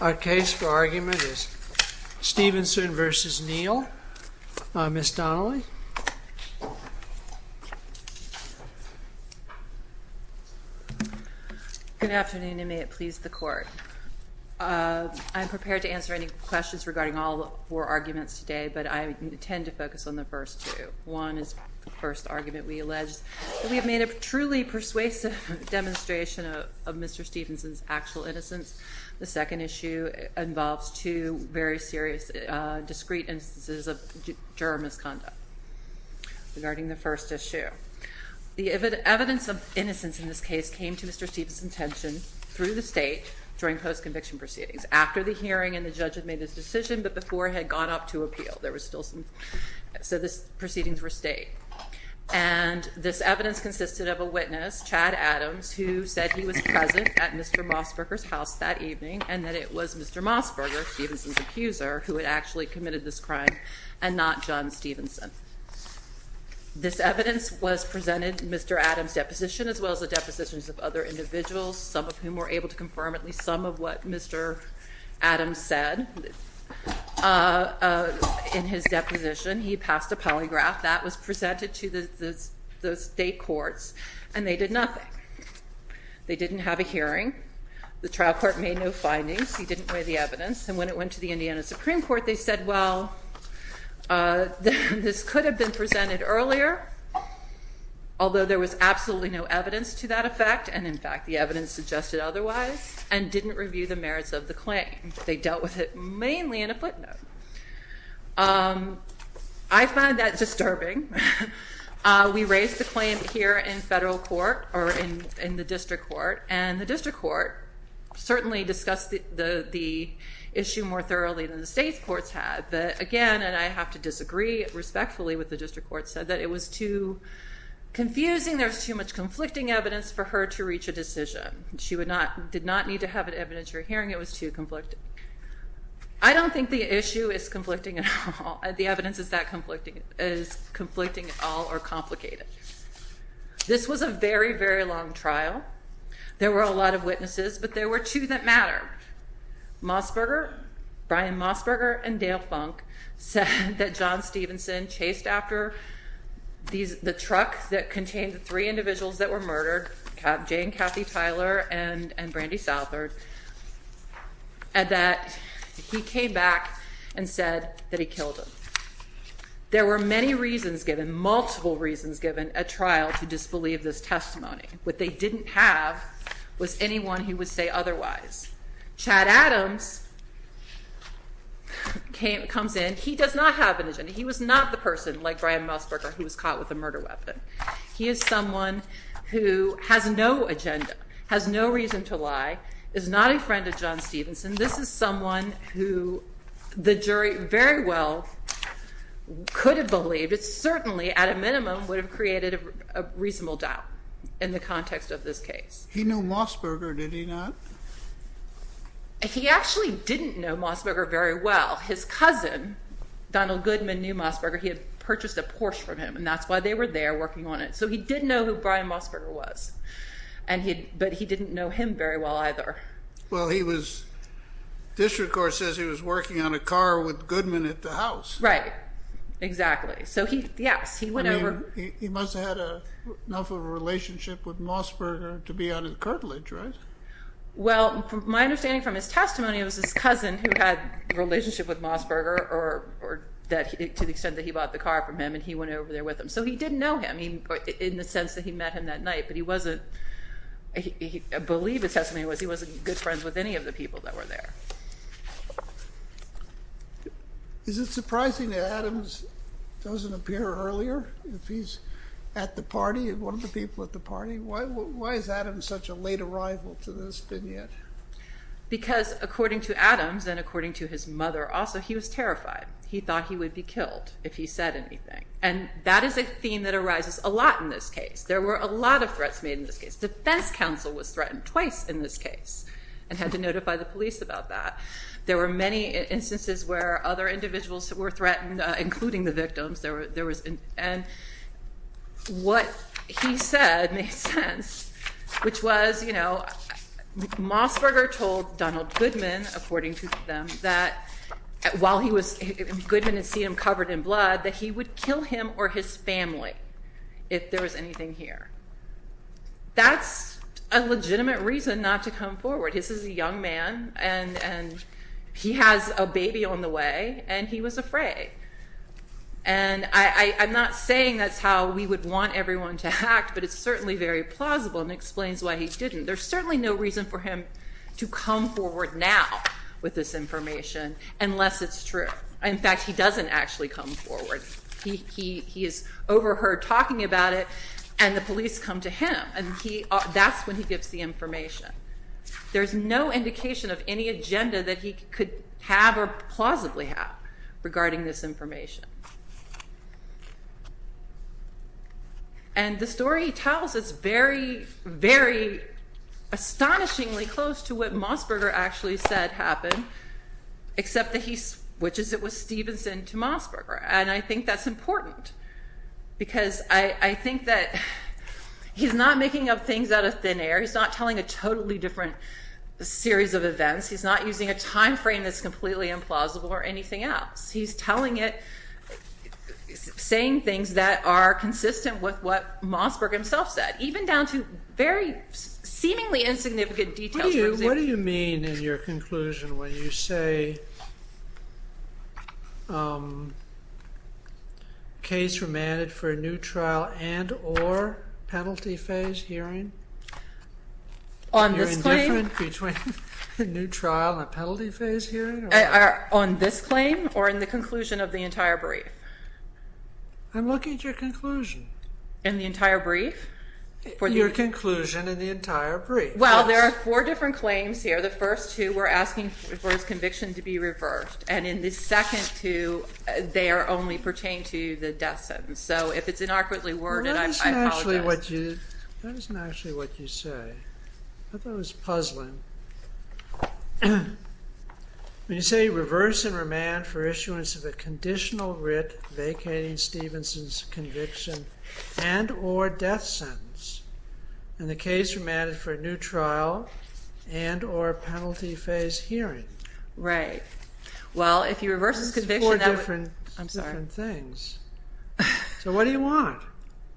Our case for argument is Stephenson v. Neal. Ms. Donnelly? Good afternoon, and may it please the court. I'm prepared to answer any questions regarding all four arguments today, but I intend to focus on the first two. One is the first argument we alleged. We have made a truly persuasive demonstration of Mr. Stephenson's actual innocence. The second issue involves two very serious discrete instances of juror misconduct regarding the first issue. The evidence of innocence in this case came to Mr. Stephenson's attention through the state during post-conviction proceedings after the hearing and the judge had made his decision, but before had gone up to appeal. So the proceedings were state. And this evidence consisted of a witness, Chad Adams, who said he was present at Mr. Mossberger's house that evening, and that it was Mr. Mossberger, Stephenson's accuser, who had actually committed this crime, and not John Stephenson. This evidence was presented in Mr. Adams' deposition, as well as the depositions of other individuals, some of whom were able to confirm at least some of what Mr. Adams said in his deposition. He passed a polygraph that was presented to the state courts, and they did nothing. They didn't have a hearing. The trial court made no findings. He didn't weigh the evidence. And when it went to the Indiana Supreme Court, they said, well, this could have been presented earlier, although there was absolutely no evidence to that effect, and in fact, the evidence suggested otherwise, and didn't review the merits of the claim. They dealt with it mainly in a footnote. I find that disturbing. We raised the claim here in federal court, or in the district court, and the district court certainly discussed the issue more thoroughly than the state courts had. But again, and I have to disagree respectfully with the district court, said that it was too confusing. There was too much conflicting evidence for her to reach a decision. She did not need to have an evidentiary hearing. It was too conflicting. I don't think the issue is conflicting at all. The evidence is conflicting at all, or complicated. This was a very, very long trial. There were a lot of witnesses, but there were two that mattered. Mossberger, Brian Mossberger, and Dale Funk said that John Stevenson chased after the truck that contained the three individuals that were murdered, Jane, Kathy, Tyler, and Brandy Southard, and that he came back and said that he killed them. There were many reasons given, multiple reasons given, at trial to disbelieve this testimony. What they didn't have was anyone who would say otherwise. Chad Adams comes in. He does not have an agenda. He was not the person like Brian Mossberger who was caught with a murder weapon. He is someone who has no agenda, has no reason to lie, is not a friend of John Stevenson. This is someone who the jury very well could have believed. It certainly, at a minimum, would have created a reasonable doubt in the context of this case. He knew Mossberger, did he not? He actually didn't know Mossberger very well. His cousin, Donald Goodman, knew Mossberger. He had purchased a Porsche from him, and that's why they were there working on it. So he did know who Brian Mossberger was, but he didn't know him very well either. Well, district court says he was working on a car with Goodman at the house. Right, exactly. So yes, he went over. He must have had enough of a relationship with Mossberger to be under the curtilage, right? Well, my understanding from his testimony was his cousin who had a relationship with Mossberger to the extent that he bought the car from him, and he went over there with him. So he didn't know him in the sense that he met him that night. But he wasn't, I believe his testimony was he wasn't good friends with any of the people that were there. Is it surprising that Adams doesn't appear earlier if he's at the party, one of the people at the party? Why is Adams such a late arrival to this vignette? Because according to Adams, and according to his mother also, he was terrified. He thought he would be killed if he said anything. And that is a theme that arises a lot in this case. There were a lot of threats made in this case. The defense counsel was threatened twice in this case and had to notify the police about that. There were many instances where other individuals were threatened, including the victims. And what he said made sense, which was Mossberger told Donald Goodman, according to them, that while Goodman had seen him covered in blood, that he would kill him or his family if there was anything here. That's a legitimate reason not to come forward. This is a young man, and he has a baby on the way, and he was afraid. And I'm not saying that's how we would want everyone to act, but it's certainly very plausible and explains why he didn't. There's certainly no reason for him to come forward now with this information unless it's true. In fact, he doesn't actually come forward. He is overheard talking about it, and the police come to him. And that's when he gives the information. There's no indication of any agenda that he could have or plausibly have regarding this information. And the story he tells is very, very astonishingly close to what Mossberger actually said happened, except that he switches it with Stevenson to Mossberger. And I think that's important, because I think that he's not making up things out of thin air. He's not telling a totally different series of events. He's not using a time frame that's completely implausible or anything else. He's telling it, saying things that are consistent with what Mossberger himself said, even down to very seemingly insignificant details. What do you mean in your conclusion when you say case remanded for a new trial and or penalty phase hearing? On this claim? Between a new trial and a penalty phase hearing? On this claim or in the conclusion of the entire brief? I'm looking at your conclusion. In the entire brief? Your conclusion in the entire brief. Well, there are four different claims here. The first two were asking for his conviction to be reversed. And in the second two, they only pertain to the death sentence. So if it's inaugurately worded, I apologize. That isn't actually what you say. I thought it was puzzling. When you say reverse and remand for issuance of a conditional writ vacating Stevenson's conviction and or death sentence, in the case remanded for a new trial and or penalty phase hearing. Right. Well, if he reverses conviction, that would. I'm sorry. Four different things. So what do you want?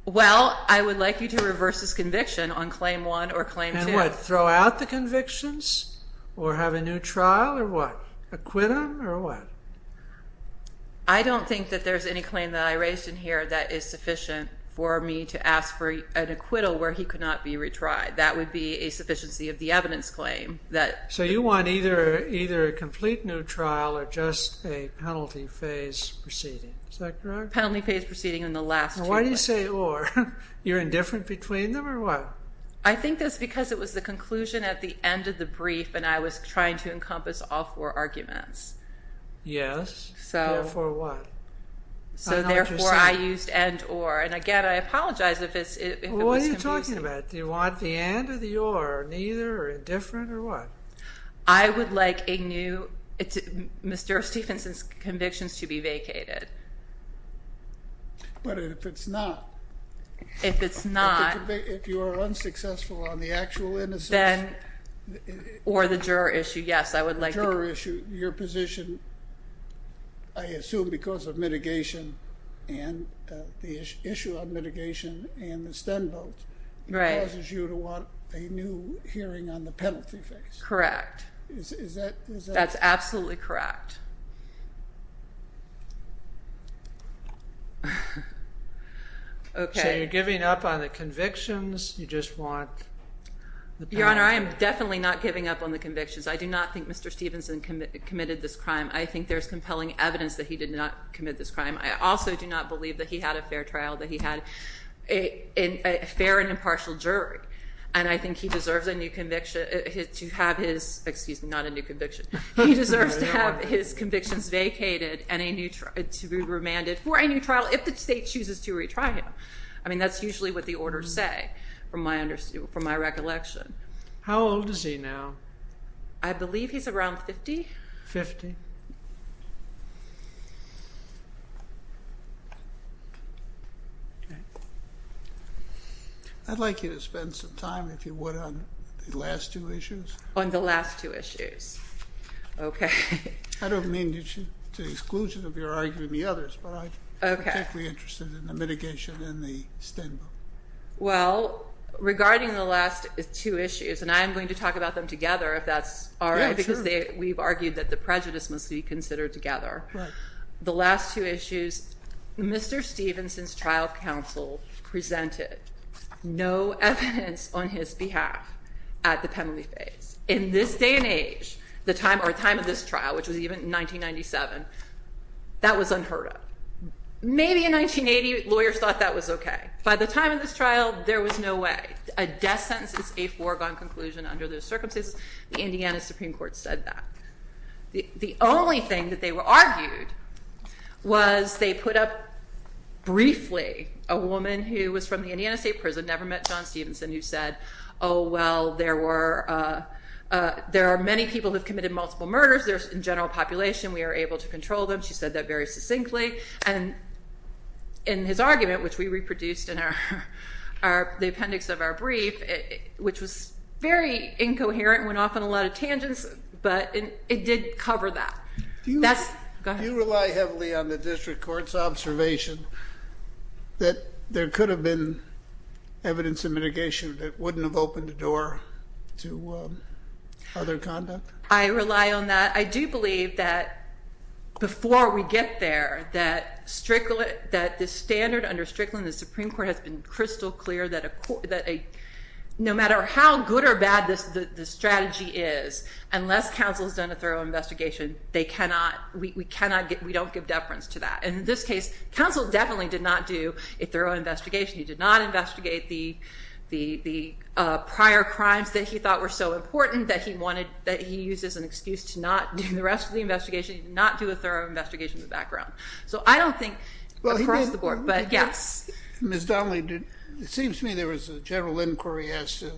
Well, I would like you to reverse his conviction on claim one or claim two. And what, throw out the convictions or have a new trial or what? Acquittal or what? I don't think that there's any claim that I raised in here that is sufficient for me to ask for an acquittal where he could not be retried. That would be a sufficiency of the evidence claim that. So you want either a complete new trial or just a penalty phase proceeding. Is that correct? Penalty phase proceeding in the last two. Why do you say or? You're indifferent between them or what? I think that's because it was the conclusion at the end of the brief. And I was trying to encompass all four arguments. Yes, therefore what? So therefore, I used and or. And again, I apologize if it was confusing. What are you talking about? Do you want the and or the or, neither, or indifferent, or what? I would like a new, Mr. Stephenson's convictions to be vacated. But if it's not. If it's not. If you are unsuccessful on the actual innocence. Or the juror issue, yes, I would like. Juror issue, your position, I assume because of mitigation and the issue of mitigation and the Stenvote, it causes you to want a new hearing on the penalty phase. Correct. That's absolutely correct. OK. So you're giving up on the convictions? You just want the penalty? Your Honor, I am definitely not giving up on the convictions. I do not think Mr. Stephenson committed this crime. I think there's compelling evidence that he did not commit this crime. I also do not believe that he had a fair trial, that he had a fair and impartial jury. And I think he deserves a new conviction, to have his, excuse me, not a new conviction. He deserves to have his convictions vacated and to be remanded for a new trial if the state chooses to retry him. I mean, that's usually what the orders say, from my recollection. How old is he now? I believe he's around 50. 50. OK. I'd like you to spend some time, if you would, on the last two issues. On the last two issues. OK. I don't mean to exclusion of your arguing the others, but I'm particularly interested in the mitigation and the stand-by. Well, regarding the last two issues, and I'm going to talk about them together, if that's all right, because we've argued that the prejudice must be considered together. The last two issues, Mr. Stevenson's trial counsel presented no evidence on his behalf at the penalty phase. In this day and age, or time of this trial, which was even 1997, that was unheard of. Maybe in 1980, lawyers thought that was OK. By the time of this trial, there was no way. A death sentence is a foregone conclusion under those circumstances. The Indiana Supreme Court said that. The only thing that they argued was they put up briefly a woman who was from the Indiana State Prison, never met John Stevenson, who said, oh, well, there are many people who have committed multiple murders. In general population, we are able to control them. She said that very succinctly. And in his argument, which we reproduced in the appendix of our brief, which was very incoherent, went off on a lot of tangents. But it did cover that. That's, go ahead. Do you rely heavily on the district court's observation that there could have been evidence of mitigation that wouldn't have opened the door to other conduct? I rely on that. I do believe that before we get there, that the standard under Strickland in the Supreme Court has been crystal clear that no matter how good or bad the strategy is, unless counsel has done a thorough investigation, we don't give deference to that. And in this case, counsel definitely did not do a thorough investigation. He did not investigate the prior crimes that he thought were so important that he used as an excuse to not do the rest of the investigation. He did not do a thorough investigation in the background. So I don't think across the board, but yes. Ms. Donnelly, it seems to me there was a general inquiry as to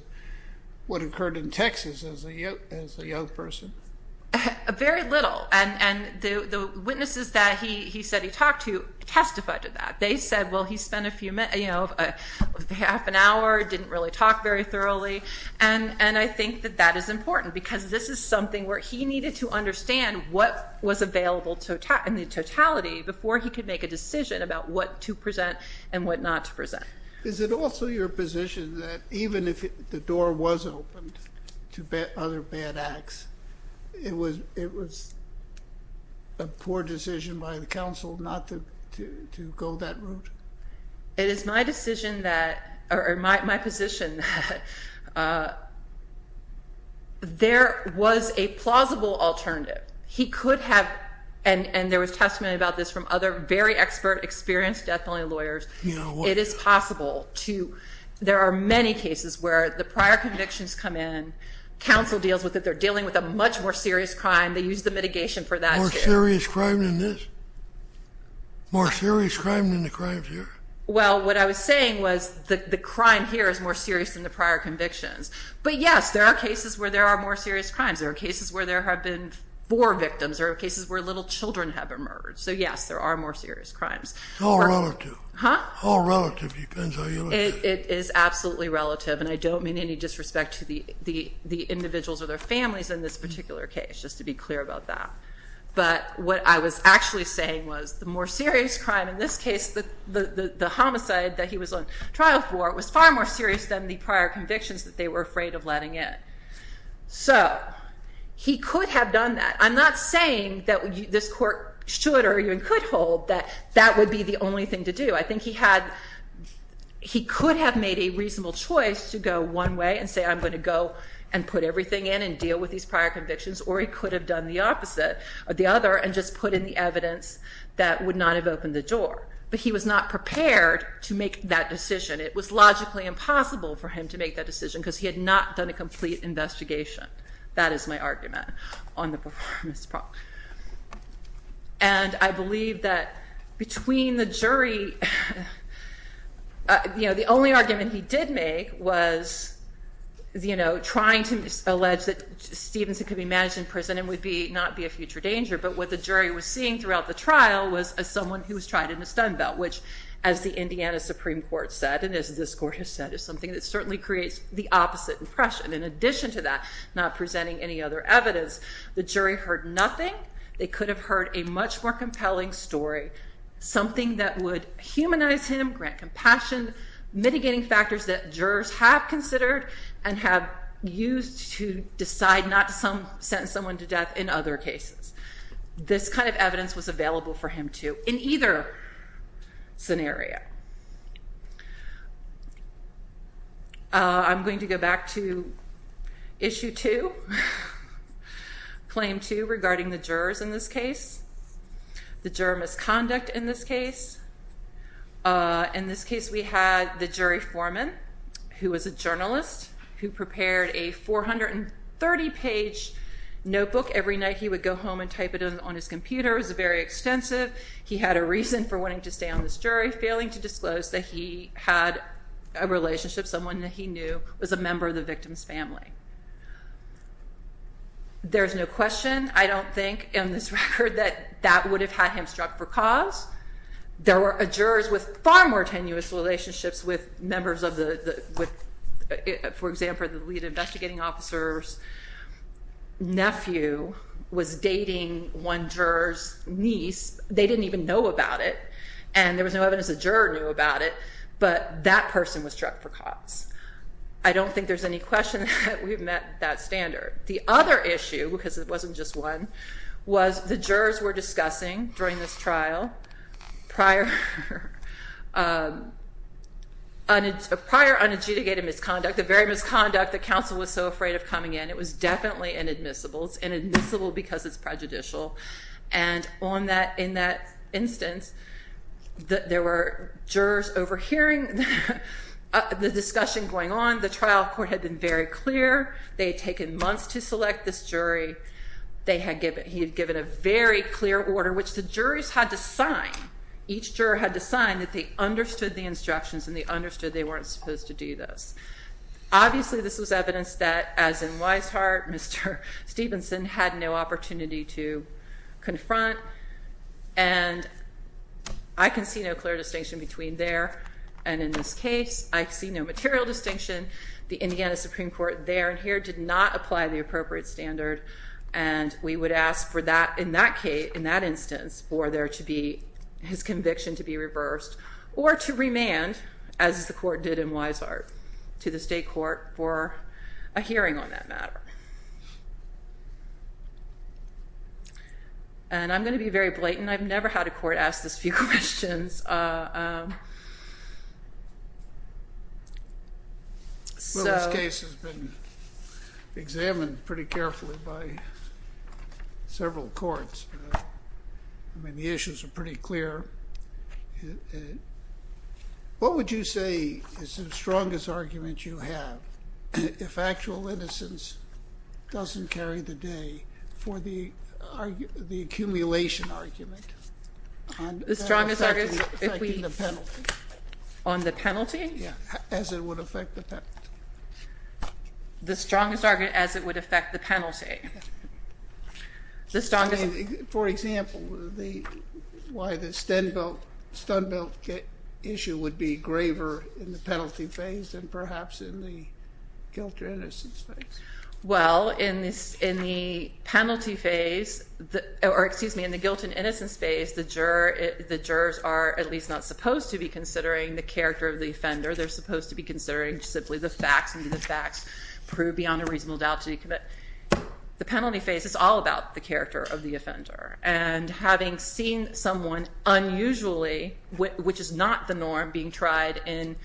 what occurred in Texas as a young person. Very little. And the witnesses that he said he talked to testified to that. They said, well, he spent a half an hour, didn't really talk very thoroughly. And I think that that is important, because this is something where he needed to understand what was available in the totality before he could make a decision about what to present and what not to present. Is it also your position that even if the door was opened to other bad acts, it was a poor decision by the counsel not to go that route? It is my decision that, or my position that, there was a plausible alternative. He could have, and there was testimony about this from other very expert, experienced death It is possible to, there are many cases where the prior convictions come in, counsel deals with it. They're dealing with a much more serious crime. They use the mitigation for that. More serious crime than this? More serious crime than the crimes here? Well, what I was saying was that the crime here is more serious than the prior convictions. But yes, there are cases where there are more serious crimes. There are cases where there have been four victims. There are cases where little children have been murdered. So yes, there are more serious crimes. How relative? How relative depends how you look at it. It is absolutely relative. And I don't mean any disrespect to the individuals or their families in this particular case, just to be clear about that. But what I was actually saying was the more serious crime, in this case, the homicide that he was on trial for, was far more serious than the prior convictions that they were afraid of letting in. So he could have done that. I'm not saying that this court should or even could hold that that would be the only thing to do. I think he could have made a reasonable choice to go one way and say, I'm going to go and put everything in and deal with these prior convictions. Or he could have done the opposite, or the other, and just put in the evidence that would not have opened the door. But he was not prepared to make that decision. It was logically impossible for him to make that decision because he had not done a complete investigation. That is my argument on the performance problem. And I believe that between the jury, the only argument he did make was trying to allege that Stevenson could be managed in prison and would not be a future danger. But what the jury was seeing throughout the trial was someone who was tried in a stun belt, which, as the Indiana Supreme Court said, and as this court has said, is something that certainly creates the opposite impression. In addition to that, not presenting any other evidence, the jury heard nothing. They could have heard a much more compelling story, something that would humanize him, grant compassion, mitigating factors that jurors have considered and have used to decide not to sentence someone to death in other cases. This kind of evidence was available for him to in either scenario. I'm going to go back to issue two. Claim two regarding the jurors in this case, the juror misconduct in this case. In this case, we had the jury foreman, who was a journalist, who prepared a 430-page notebook. Every night, he would go home and type it on his computer. It was very extensive. He had a reason for wanting to stay on this jury, failing to disclose that he had a relationship, someone that he knew was a member of the victim's family. There is no question, I don't think, in this record, that that would have had him struck for cause. There were jurors with far more tenuous relationships with members of the, for example, the lead investigating officer's nephew was dating one juror's niece. They didn't even know about it, and there was no evidence the juror knew about it, but that person was struck for cause. I don't think there's any question that we've met that standard. The other issue, because it wasn't just one, was the jurors were discussing during this trial prior unadjudicated misconduct, the very misconduct that counsel was so afraid of coming in. It was definitely inadmissible. It's inadmissible because it's prejudicial. And in that instance, there were jurors overhearing the discussion going on. The trial court had been very clear. They had taken months to select this jury. He had given a very clear order, which the jurors had to sign. Each juror had to sign that they understood the instructions and they understood they weren't supposed to do this. Obviously, this was evidence that, as in Weishart, Mr. Stevenson had no opportunity to confront. And I can see no clear distinction between there and in this case. I see no material distinction. The Indiana Supreme Court there and here did not apply the appropriate standard. And we would ask for that in that case, in that instance, for there to be his conviction to be reversed or to remand, as the court did in Weishart, to the state court for a hearing on that matter. And I'm going to be very blatant. And I've never had a court ask this few questions. So this case has been examined pretty carefully by several courts. I mean, the issues are pretty clear. What would you say is the strongest argument you have, if actual innocence doesn't carry the day, for the accumulation argument? The strongest argument, if we, on the penalty? As it would affect the penalty. The strongest argument as it would affect the penalty. The strongest. For example, why the Stenbelt issue would be graver in the penalty phase than perhaps in the guilt or innocence phase. Well, in the penalty phase, or excuse me, in the guilt and innocence phase, the jurors are at least not supposed to be considering the character of the offender. They're supposed to be considering simply the facts and the facts prove beyond a reasonable doubt to commit. The penalty phase is all about the character of the offender. And having seen someone unusually, which is not the norm, being tried in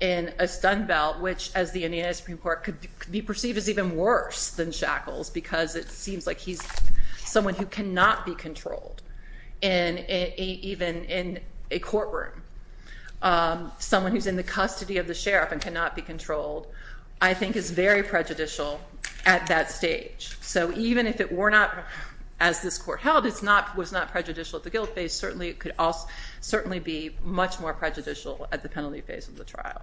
a Stenbelt, which, as the Indiana Supreme Court could be perceived as even worse than shackles, because it seems like he's someone who cannot be controlled. And even in a courtroom, someone who's in the custody of the sheriff and cannot be controlled, I think is very prejudicial at that stage. So even if it were not, as this court held, it was not prejudicial at the guilt phase, certainly it could also certainly be much more prejudicial at the penalty phase of the trial.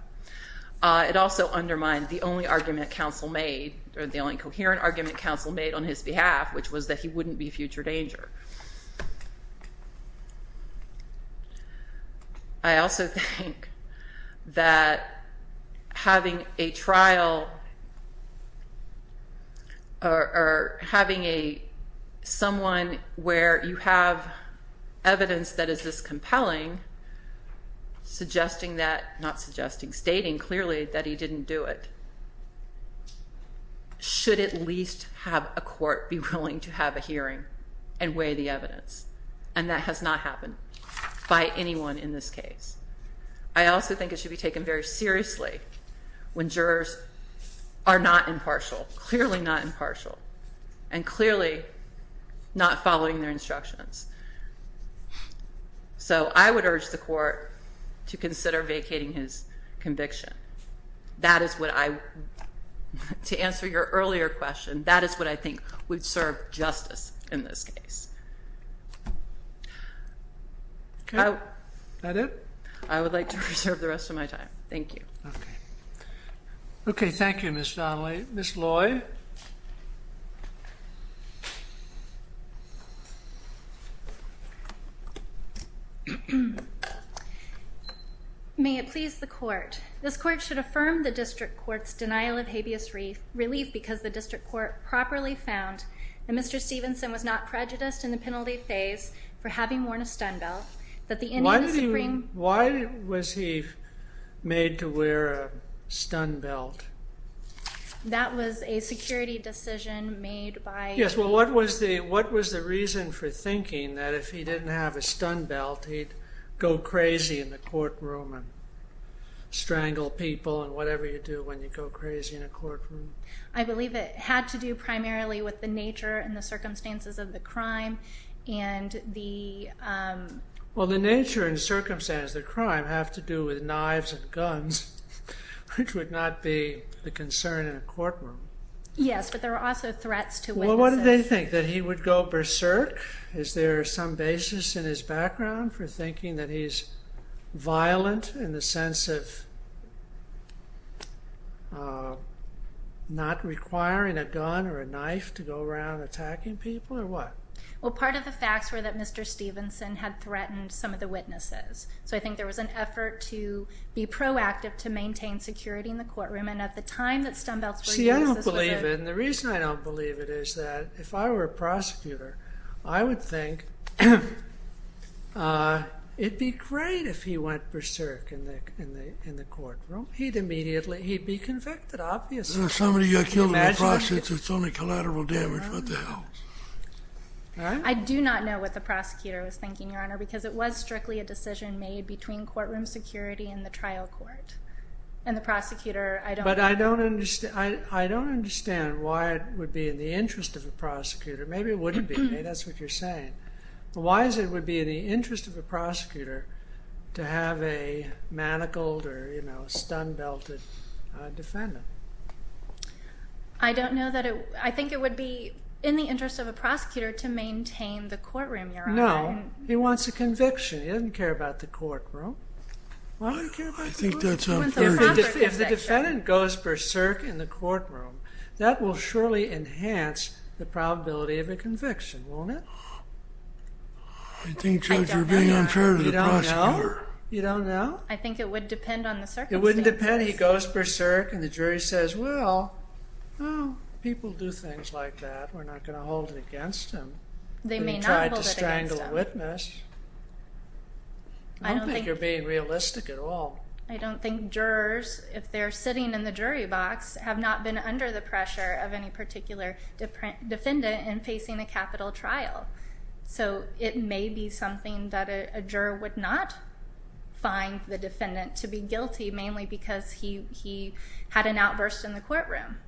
It also undermined the only argument counsel made, or the only coherent argument counsel made on his behalf, which was that he wouldn't be a future danger. I also think that having a trial, or having someone where you have evidence that stating clearly that he didn't do it, should at least have a court be willing to have a hearing and weigh the evidence. And that has not happened by anyone in this case. I also think it should be taken very seriously when jurors are not impartial, clearly not impartial, and clearly not following their instructions. So I would urge the court to consider vacating his conviction. That is what I would, to answer your earlier question, that is what I think would serve justice in this case. Is that it? I would like to reserve the rest of my time. Thank you. OK, thank you, Ms. Donnelly. Ms. Lloyd? Thank you. May it please the court, this court should affirm the district court's denial of habeas relief because the district court properly found that Mr. Stevenson was not prejudiced in the penalty phase for having worn a stun belt, that the Indian Supreme Court Why did he, why was he made to wear a stun belt? That was a security decision made by. Yes, well, what was the, what was the reason for thinking that if he didn't have a stun belt, he'd go crazy in the courtroom and strangle people and whatever you do when you go crazy in a courtroom? I believe it had to do primarily with the nature and the circumstances of the crime and the. Well, the nature and circumstances of the crime have to do with knives and guns, which would not be the concern in a courtroom. Yes, but there were also threats to witnesses. Why did they think that he would go berserk? Is there some basis in his background for thinking that he's violent in the sense of not requiring a gun or a knife to go around attacking people, or what? Well, part of the facts were that Mr. Stevenson had threatened some of the witnesses. So I think there was an effort to be proactive to maintain security in the courtroom. And at the time that stun belts were used, this was a. See, I don't believe it, and the reason I don't believe it is that if I were a prosecutor, I would think it'd be great if he went berserk in the courtroom. He'd immediately, he'd be convicted, obviously. If somebody got killed in the process, it's only collateral damage, what the hell? I do not know what the prosecutor was thinking, Your Honor, because it was strictly a decision made between courtroom security and the trial court. And the prosecutor, I don't know. I don't understand why it would be in the interest of a prosecutor. Maybe it wouldn't be, that's what you're saying. Why is it would be in the interest of a prosecutor to have a manacled or a stun belted defendant? I don't know that it, I think it would be in the interest of a prosecutor to maintain the courtroom, Your Honor. No, he wants a conviction. He doesn't care about the courtroom. Why would he care about the courtroom? If the defendant goes berserk in the courtroom, that will surely enhance the probability of a conviction, won't it? I think, Judge, you're being unfair to the prosecutor. You don't know? I think it would depend on the circumstances. It would depend. He goes berserk, and the jury says, well, people do things like that. We're not going to hold it against him. They may not hold it against him. He tried to strangle a witness. I don't think you're being realistic at all. I don't think jurors, if they're sitting in the jury box, have not been under the pressure of any particular defendant in facing a capital trial. So it may be something that a juror would not find the defendant to be guilty, mainly because he had an outburst in the courtroom.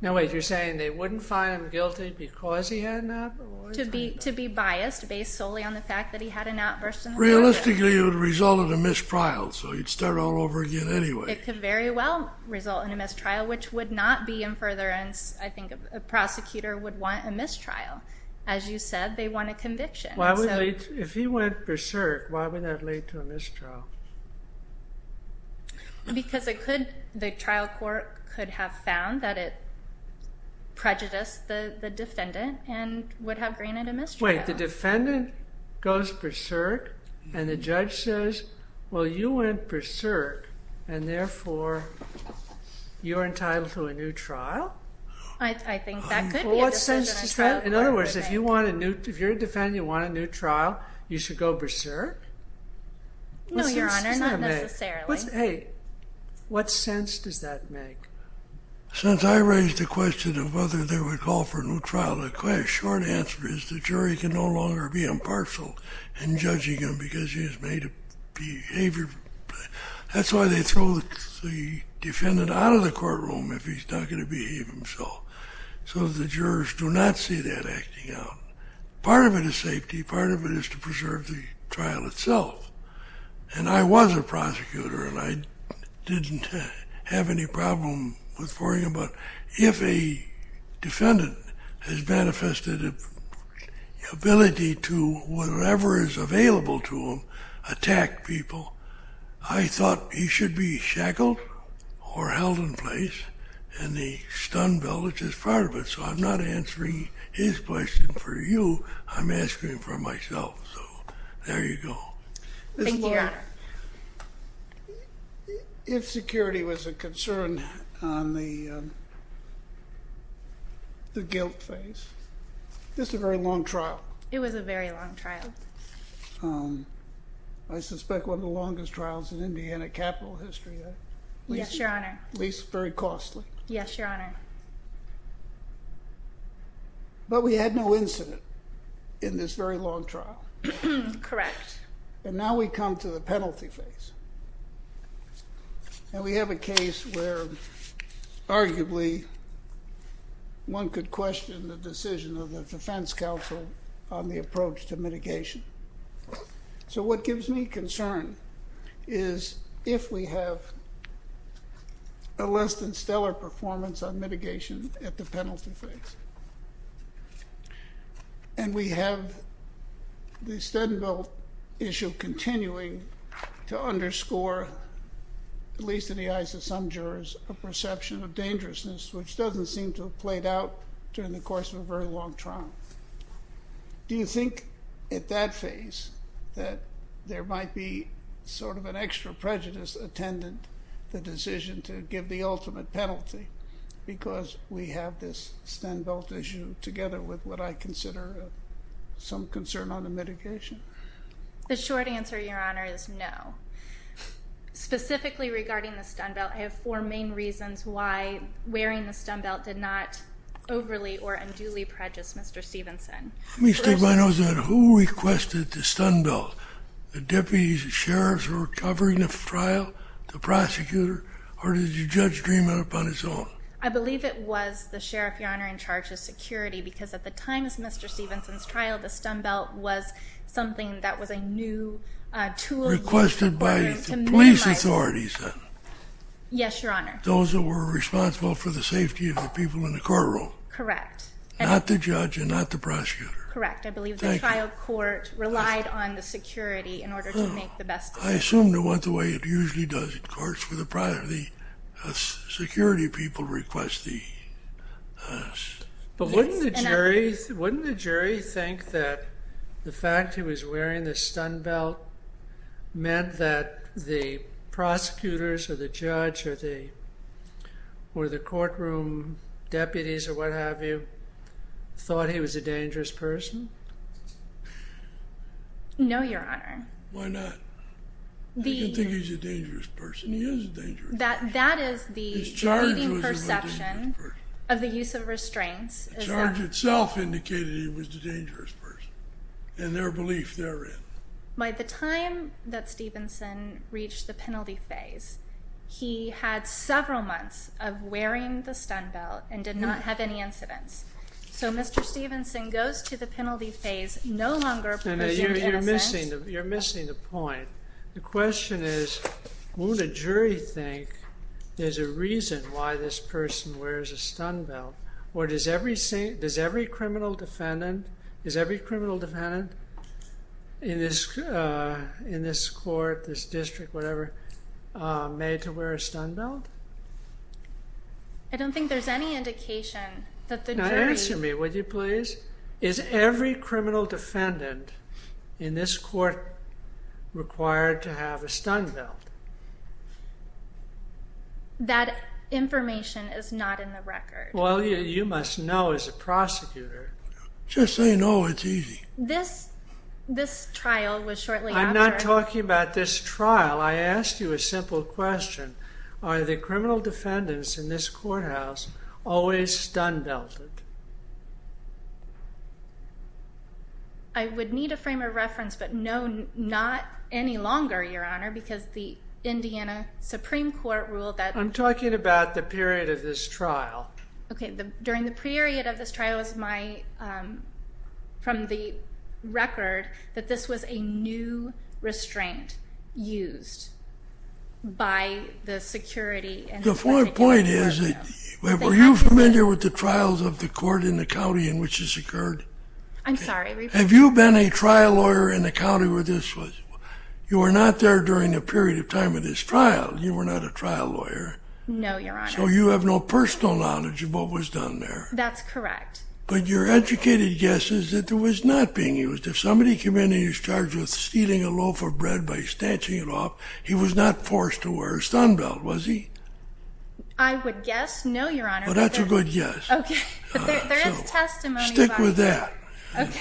Now, wait, you're saying they wouldn't find him guilty because he had an outburst? To be biased, based solely on the fact that he had an outburst in the courtroom. Realistically, it would result in a mistrial, so he'd start all over again anyway. It could very well result in a mistrial, which would not be in furtherance. I think a prosecutor would want a mistrial. As you said, they want a conviction. If he went berserk, why would that lead to a mistrial? Because the trial court could have found that it prejudiced the defendant and would have granted a mistrial. Wait, the defendant goes berserk, and the judge says, well, you went berserk, and therefore, you're entitled to a new trial? I think that could be a different trial court. In other words, if you're a defendant, you want a new trial, you should go berserk? No, Your Honor, not necessarily. Hey, what sense does that make? Since I raised the question of whether they would call for a new trial, the short answer is the jury can no longer be impartial in judging him because he has made a behavior. That's why they throw the defendant out of the courtroom if he's not going to behave himself. So the jurors do not see that acting out. Part of it is safety. Part of it is to preserve the trial itself. And I was a prosecutor, and I didn't have any problem with worrying about if a defendant has manifested an ability to, whatever is available to him, attack people. I thought he should be shackled or held in place, and the stun belt is just part of it. So I'm not answering his question for you. I'm asking him for myself. So there you go. Thank you, Your Honor. If security was a concern on the guilt phase, this is a very long trial. It was a very long trial. I suspect one of the longest trials in Indiana capital history. Yes, Your Honor. At least very costly. Yes, Your Honor. But we had no incident in this very long trial. Correct. And now we come to the penalty phase. And we have a case where, arguably, one could question the decision of the defense counsel on the approach to mitigation. So what gives me concern is if we have a less than stellar performance on mitigation at the penalty phase. And we have the stun belt issue continuing to underscore, at least in the eyes of some jurors, a perception of dangerousness, which doesn't seem to have played out during the course of a very long trial. Do you think, at that phase, that there might be sort of an extra prejudice attendant, Because we have this stun belt issue. Together with what I consider some concern on the mitigation. The short answer, Your Honor, is no. Specifically regarding the stun belt, I have four main reasons why wearing the stun belt did not overly or unduly prejudice Mr. Stevenson. Let me state my nose on it. Who requested the stun belt? The deputies and sheriffs who were covering the trial? The prosecutor? Or did the judge dream it up on his own? I believe it was the sheriff, Your Honor, in charge of security. Because at the time of Mr. Stevenson's trial, the stun belt was something that was a new tool. Requested by the police authorities, then? Yes, Your Honor. Those that were responsible for the safety of the people in the courtroom? Correct. Not the judge and not the prosecutor? Correct. I believe the trial court relied on the security in order to make the best of it. I assume they went the way it usually does in courts where the security people request the stun belt. But wouldn't the jury think that the fact he was wearing the stun belt meant that the prosecutors, or the judge, or the courtroom deputies, or what have you, thought he was a dangerous person? No, Your Honor. Why not? I can think he's a dangerous person. He is a dangerous person. That is the perception of the use of restraints. The charge itself indicated he was a dangerous person and their belief therein. By the time that Stevenson reached the penalty phase, he had several months of wearing the stun belt and did not have any incidents. So Mr. Stevenson goes to the penalty phase no longer proposing innocence. You're missing the point. The question is, wouldn't a jury think there's a reason why this person wears a stun belt? Or does every criminal defendant in this court, this district, whatever, made to wear a stun belt? I don't think there's any indication that the jury's. Now answer me, would you please? Is every criminal defendant in this court required to have a stun belt? That information is not in the record. Well, you must know as a prosecutor. Just say no, it's easy. This trial was shortly after. I'm not talking about this trial. I asked you a simple question. Are the criminal defendants in this courthouse always stun belted? I would need a frame of reference, but no, not any longer, Your Honor, because the Indiana Supreme Court ruled that. I'm talking about the period of this trial. OK, during the period of this trial, it was from the record that this was a new restraint used by the security. The point is, were you familiar with the trials of the court in the county in which this occurred? I'm sorry. Have you been a trial lawyer in the county where this was? You were not there during the period of time of this trial. You were not a trial lawyer. No, Your Honor. So you have no personal knowledge of what was done there. That's correct. But your educated guess is that it was not being used. If somebody came in and was charged with stealing a loaf of bread by snatching it off, he was not forced to wear a stun belt, was he? I would guess no, Your Honor. Well, that's a good guess. OK. But there is testimony about that. Stick with that. OK.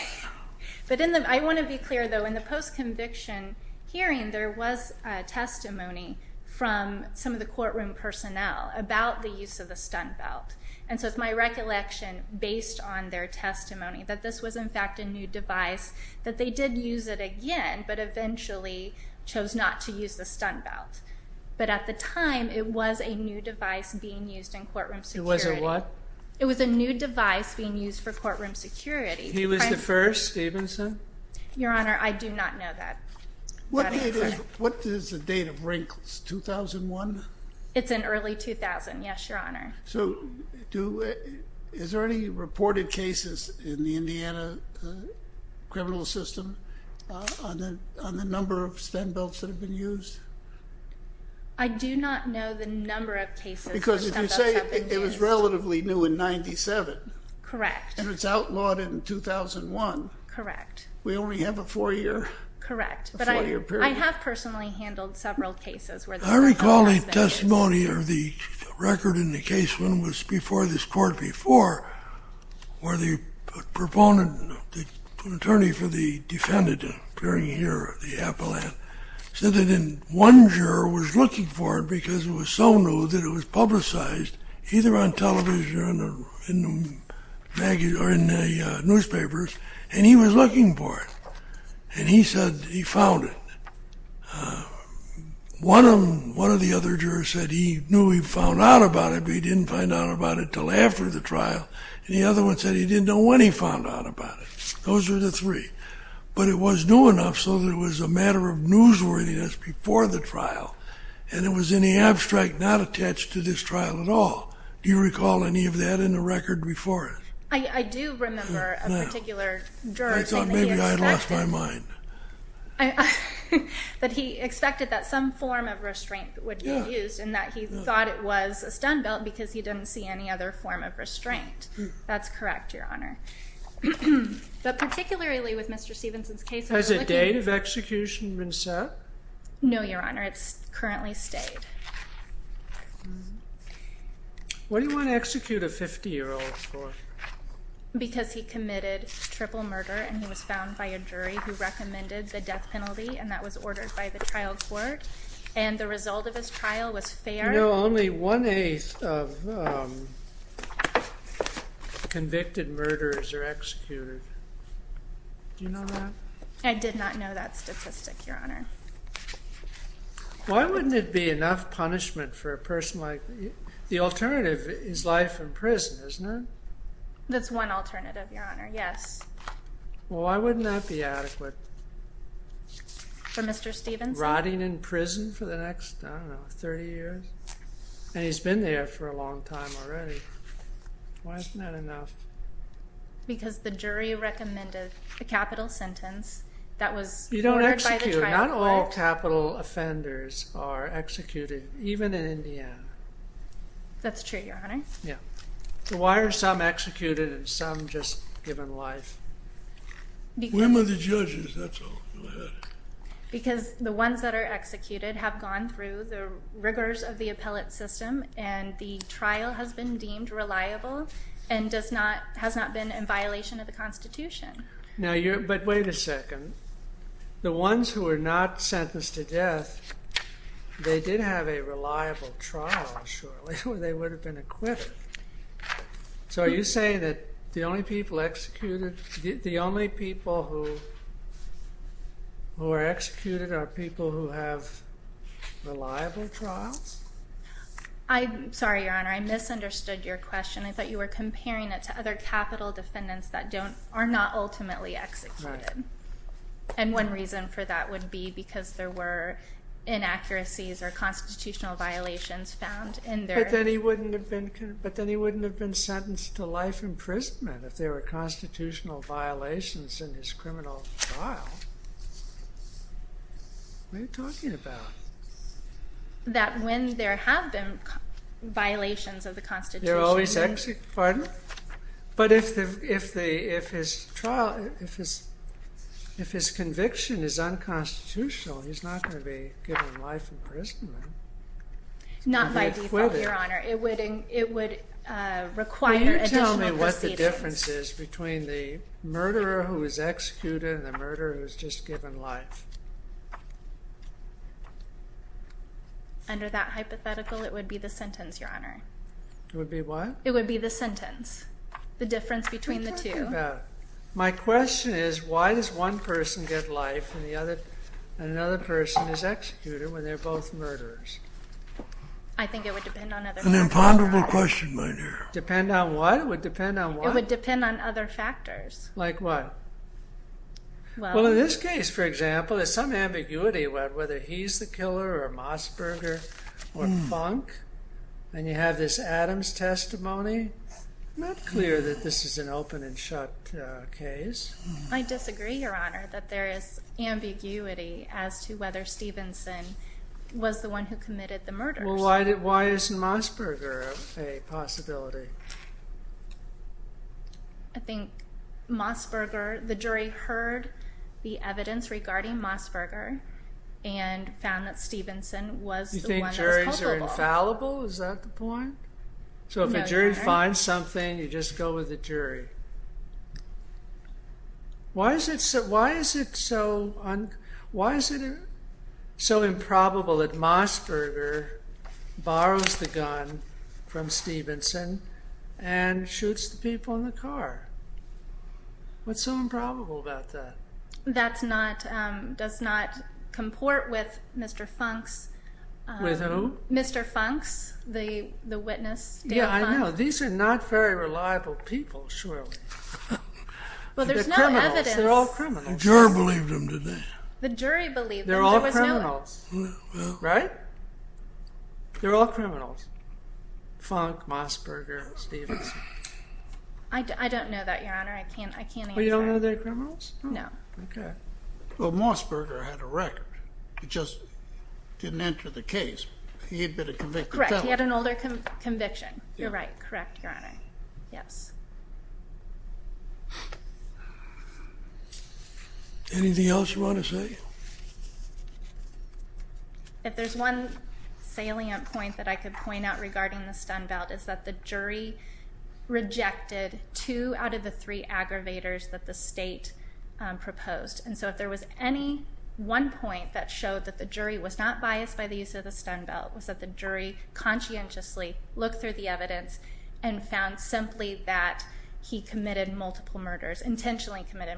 But I want to be clear, though. In the post-conviction hearing, there was testimony from some of the courtroom personnel about the use of the stun belt. And so it's my recollection, based on their testimony, that this was, in fact, a new device, that they did use it again, but eventually chose not to use the stun belt. But at the time, it was a new device being used in courtroom security. It was a what? It was a new device being used for courtroom security. He was the first, Stevenson? Your Honor, I do not know that. What is the date of Wrinkles, 2001? It's in early 2000, yes, Your Honor. So is there any reported cases in the Indiana criminal system on the number of stun belts that have been used? I do not know the number of cases where stun belts have been used. Because if you say it was relatively new in 97. Correct. And it was outlawed in 2001. Correct. We only have a four-year period. Correct. But I have personally handled several cases where the stun belt has been used. I recall a testimony, or the record in the case when it was before this court before, where the attorney for the defendant appearing here, the appellant, said that one juror was looking for it because it was so new that it was publicized either on television or in newspapers. And he was looking for it. And he said he found it. One of the other jurors said he knew he found out about it, but he didn't find out about it until after the trial. And the other one said he didn't know when he found out about it. Those are the three. But it was new enough so that it was a matter of newsworthiness before the trial. And it was in the abstract, not attached to this trial at all. Do you recall any of that in the record before it? I do remember a particular juror saying that he expected that some form of restraint would be used, and that he thought it was a stun belt because he didn't see any other form of restraint. That's correct, Your Honor. But particularly with Mr. Stevenson's case, we're looking at- Has a date of execution been set? No, Your Honor. It's currently stayed. What do you want to execute a 50-year-old for? Because he committed triple murder, and he was found by a jury who recommended the death penalty. And that was ordered by the trial court. And the result of his trial was fair. You know, only 1 8th of convicted murderers are executed. Do you know that? I did not know that statistic, Your Honor. Why wouldn't it be enough punishment for a person like- the alternative is life in prison, isn't it? That's one alternative, Your Honor, yes. Well, why wouldn't that be adequate? For Mr. Stevenson? Rotting in prison for the next, I don't know, 30 years? And he's been there for a long time already. Why isn't that enough? Because the jury recommended a capital sentence that was- You don't execute. Not all capital offenders are executed, even in Indiana. That's true, Your Honor. Yeah. So why are some executed and some just given life? Women are the judges, that's all. Because the ones that are executed have gone through the rigors of the appellate system. And the trial has been deemed reliable and has not been in violation of the Constitution. But wait a second. The ones who are not sentenced to death, they did have a reliable trial, surely, or they would have been acquitted. So are you saying that the only people executed- Who are executed are people who have reliable trials? Sorry, Your Honor, I misunderstood your question. I thought you were comparing it to other capital defendants that are not ultimately executed. And one reason for that would be because there were inaccuracies or constitutional violations found in their- But then he wouldn't have been sentenced to life imprisonment if there were constitutional violations in his criminal trial. What are you talking about? That when there have been violations of the Constitution- They're always executed. Pardon? But if his conviction is unconstitutional, he's not going to be given life imprisonment. Not by default, Your Honor. It would require additional proceedings. What are the differences between the murderer who is executed and the murderer who is just given life? Under that hypothetical, it would be the sentence, Your Honor. It would be what? It would be the sentence. The difference between the two. My question is, why does one person get life and another person is executed when they're both murderers? I think it would depend on other people. An imponderable question, my dear. Depend on what? It would depend on what? It would depend on other factors. Like what? Well, in this case, for example, there's some ambiguity about whether he's the killer or Mosberger or Funk. And you have this Adams testimony. Not clear that this is an open and shut case. I disagree, Your Honor, that there is ambiguity as to whether Stevenson was the one who committed the murders. Well, why isn't Mosberger a possibility? I think Mosberger, the jury heard the evidence regarding Mosberger and found that Stevenson was the one that was culpable. You think juries are infallible? Is that the point? I agree. Why is it so improbable that Mosberger borrows the gun from Stevenson and shoots the people in the car? What's so improbable about that? That does not comport with Mr. Funk's witness, Dale Funk. Yeah, I know. These are not very reliable people, surely. Well, there's no evidence. They're all criminals. The jury believed him, didn't they? The jury believed him. They're all criminals. Right? They're all criminals. Funk, Mosberger, Stevenson. I don't know that, Your Honor. I can't answer that. Well, you don't know they're criminals? No. OK. Well, Mosberger had a record. He just didn't enter the case. He had been a convicted felon. Correct. He had an older conviction. You're right. Correct, Your Honor. Yes. Anything else you want to say? If there's one salient point that I could point out regarding the stun belt is that the jury rejected two out of the three aggravators that the state proposed. And so if there was any one point that showed that the jury was not biased by the use of the stun belt was that the jury conscientiously looked through the evidence and found simply that he committed multiple murders, intentionally committed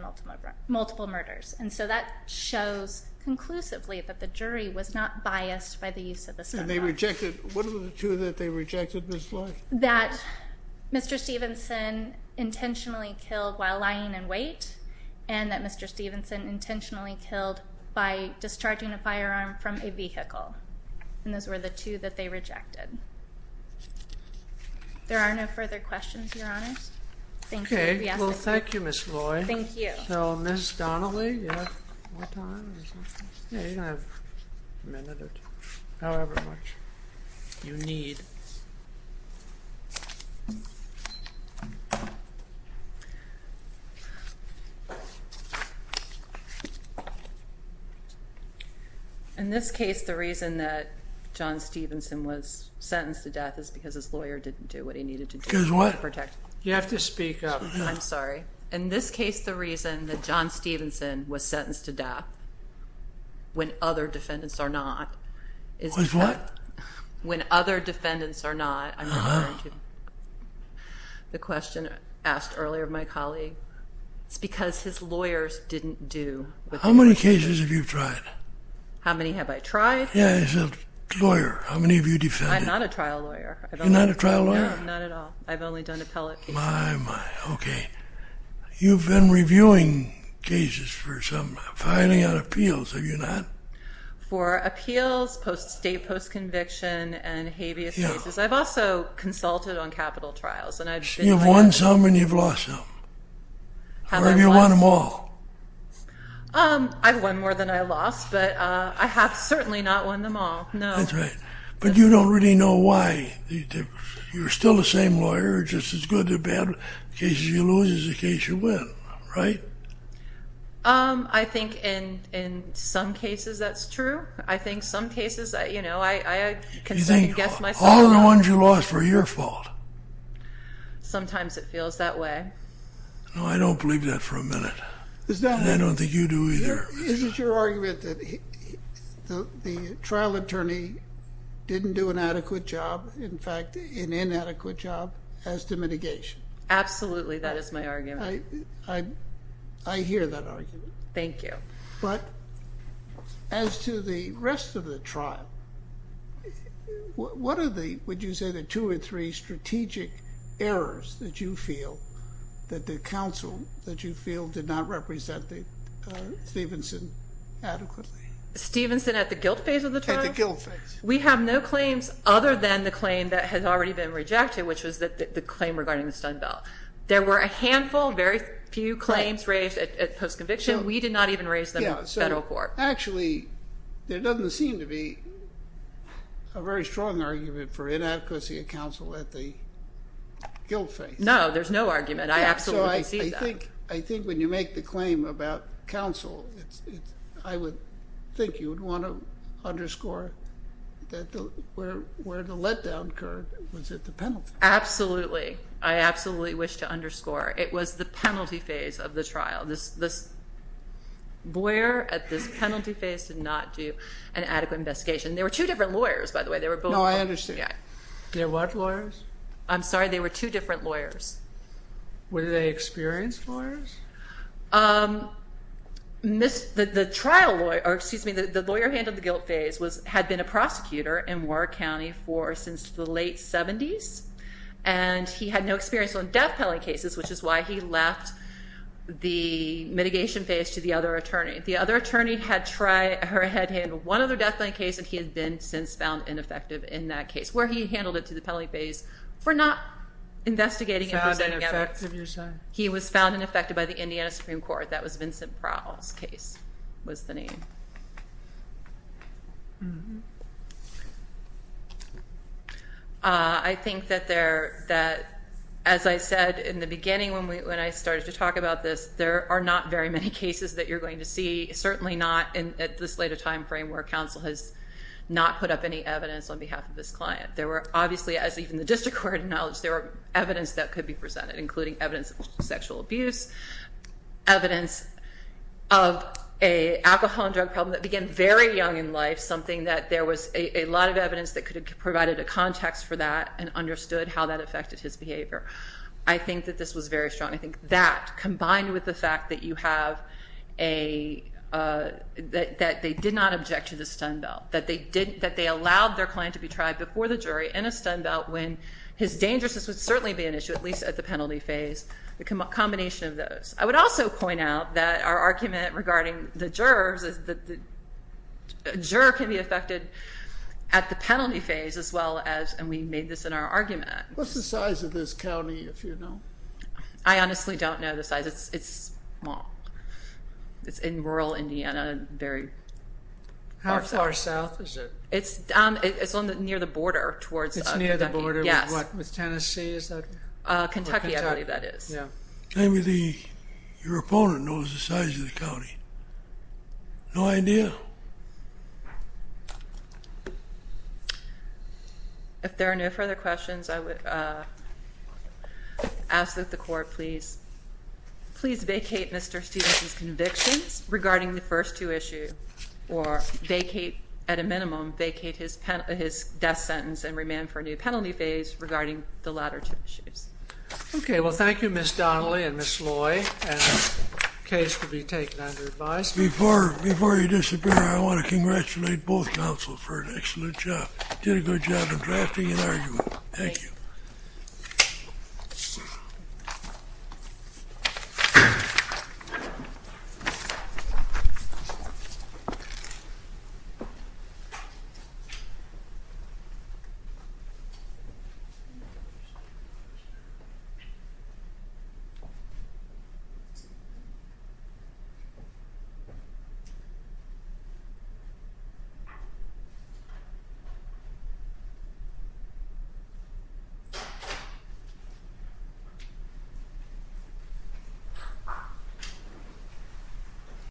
multiple murders. And so that shows conclusively that the jury was not biased by the use of the stun belt. What are the two that they rejected, Ms. Floyd? That Mr. Stevenson intentionally killed while lying in wait and that Mr. Stevenson intentionally killed by discharging a firearm from a vehicle. And those were the two that they rejected. There are no further questions, Your Honor. Thank you. OK, well, thank you, Ms. Floyd. Thank you. So Ms. Donnelly, you have more time or something? Yeah, you can have a minute or two, however much you need. Thank you. In this case, the reason that John Stevenson was sentenced to death is because his lawyer didn't do what he needed to do to protect him. You have to speak up. I'm sorry. In this case, the reason that John Stevenson was sentenced to death when other defendants are not is what? When other defendants are not, I'm referring to the question asked earlier of my colleague. It's because his lawyers didn't do what they needed to do. How many cases have you tried? How many have I tried? Yeah, as a lawyer, how many have you defended? I'm not a trial lawyer. You're not a trial lawyer? No, not at all. I've only done appellate cases. My, my, OK. You've been reviewing cases for some filing on appeals, have you not? For appeals, state post-conviction, and habeas cases. I've also consulted on capital trials. And I've been doing that. You've won some and you've lost some. Or have you won them all? I've won more than I lost. But I have certainly not won them all, no. That's right. But you don't really know why. You're still the same lawyer. Just as good or bad cases you lose is the case you win, right? I think in some cases that's true. I think some cases, you know, I can certainly guess myself. All the ones you lost were your fault. Sometimes it feels that way. No, I don't believe that for a minute. And I don't think you do either. Is it your argument that the trial attorney didn't do an adequate job, in fact, an inadequate job, as to mitigation? Absolutely, that is my argument. I hear that argument. Thank you. But as to the rest of the trial, what are the, would you say, the two or three strategic errors that you feel that the counsel, that you feel, did not represent Stevenson adequately? Stevenson at the guilt phase of the trial? At the guilt phase. We have no claims other than the claim that has already been rejected, which was the claim regarding the Stun Bell. There were a handful, very few claims raised at post-conviction. We did not even raise them at federal court. Actually, there doesn't seem to be a very strong argument for inadequacy of counsel at the guilt phase. No, there's no argument. I absolutely see that. I think when you make the claim about counsel, I would think you would want to underscore that where the letdown occurred was at the penalty. Absolutely. I absolutely wish to underscore. It was the penalty phase of the trial. This lawyer at this penalty phase did not do an adequate investigation. There were two different lawyers, by the way. They were both. No, I understand. They're what lawyers? I'm sorry. They were two different lawyers. Were they experienced lawyers? The trial lawyer, or excuse me, the lawyer handled the guilt phase, had been a prosecutor in Ward County since the late 70s. And he had no experience on death penalty cases, which is why he left the mitigation phase to the other attorney. The other attorney had tried, or had handled, one other death penalty case, and he had been since found ineffective in that case, where he handled it to the penalty phase for not investigating and presenting evidence. He was found ineffective by the Indiana Supreme Court. That was Vincent Prowell's case was the name. Mm-hmm. I think that, as I said in the beginning when I started to talk about this, there are not very many cases that you're going to see. Certainly not in this later time frame where counsel has not put up any evidence on behalf of this client. There were obviously, as even the district court acknowledged, there were evidence that could be presented, including evidence of sexual abuse, evidence of a alcohol and drug problem that began very young in life, something that there was a lot of evidence that could have provided a context for that and understood how that affected his behavior. I think that this was very strong. I think that, combined with the fact that you have a, that they did not object to the stun belt, that they allowed their client to be tried before the jury in a stun belt when his dangerousness would certainly be an issue, at least at the penalty phase. The combination of those. I would also point out that our argument regarding the jurors is that the juror can be affected at the penalty phase as well as, and we made this in our argument. What's the size of this county, if you know? I honestly don't know the size. It's small. It's in rural Indiana, very far south. How far south is it? It's near the border towards Kentucky. It's near the border with what? With Tennessee, is that? Kentucky, I believe that is. Maybe your opponent knows the size of the county. No idea? If there are no further questions, I would ask that the court please vacate Mr. Stevens' convictions regarding the first two issues, or vacate, at a minimum, vacate his death sentence and remand for a new penalty phase regarding the latter two issues. OK, well, thank you, Ms. Donnelly and Ms. Loy. Case will be taken under advice. Before you disappear, I want to congratulate both counsel for an excellent job. Did a good job in drafting an argument. Thank you. Thank you.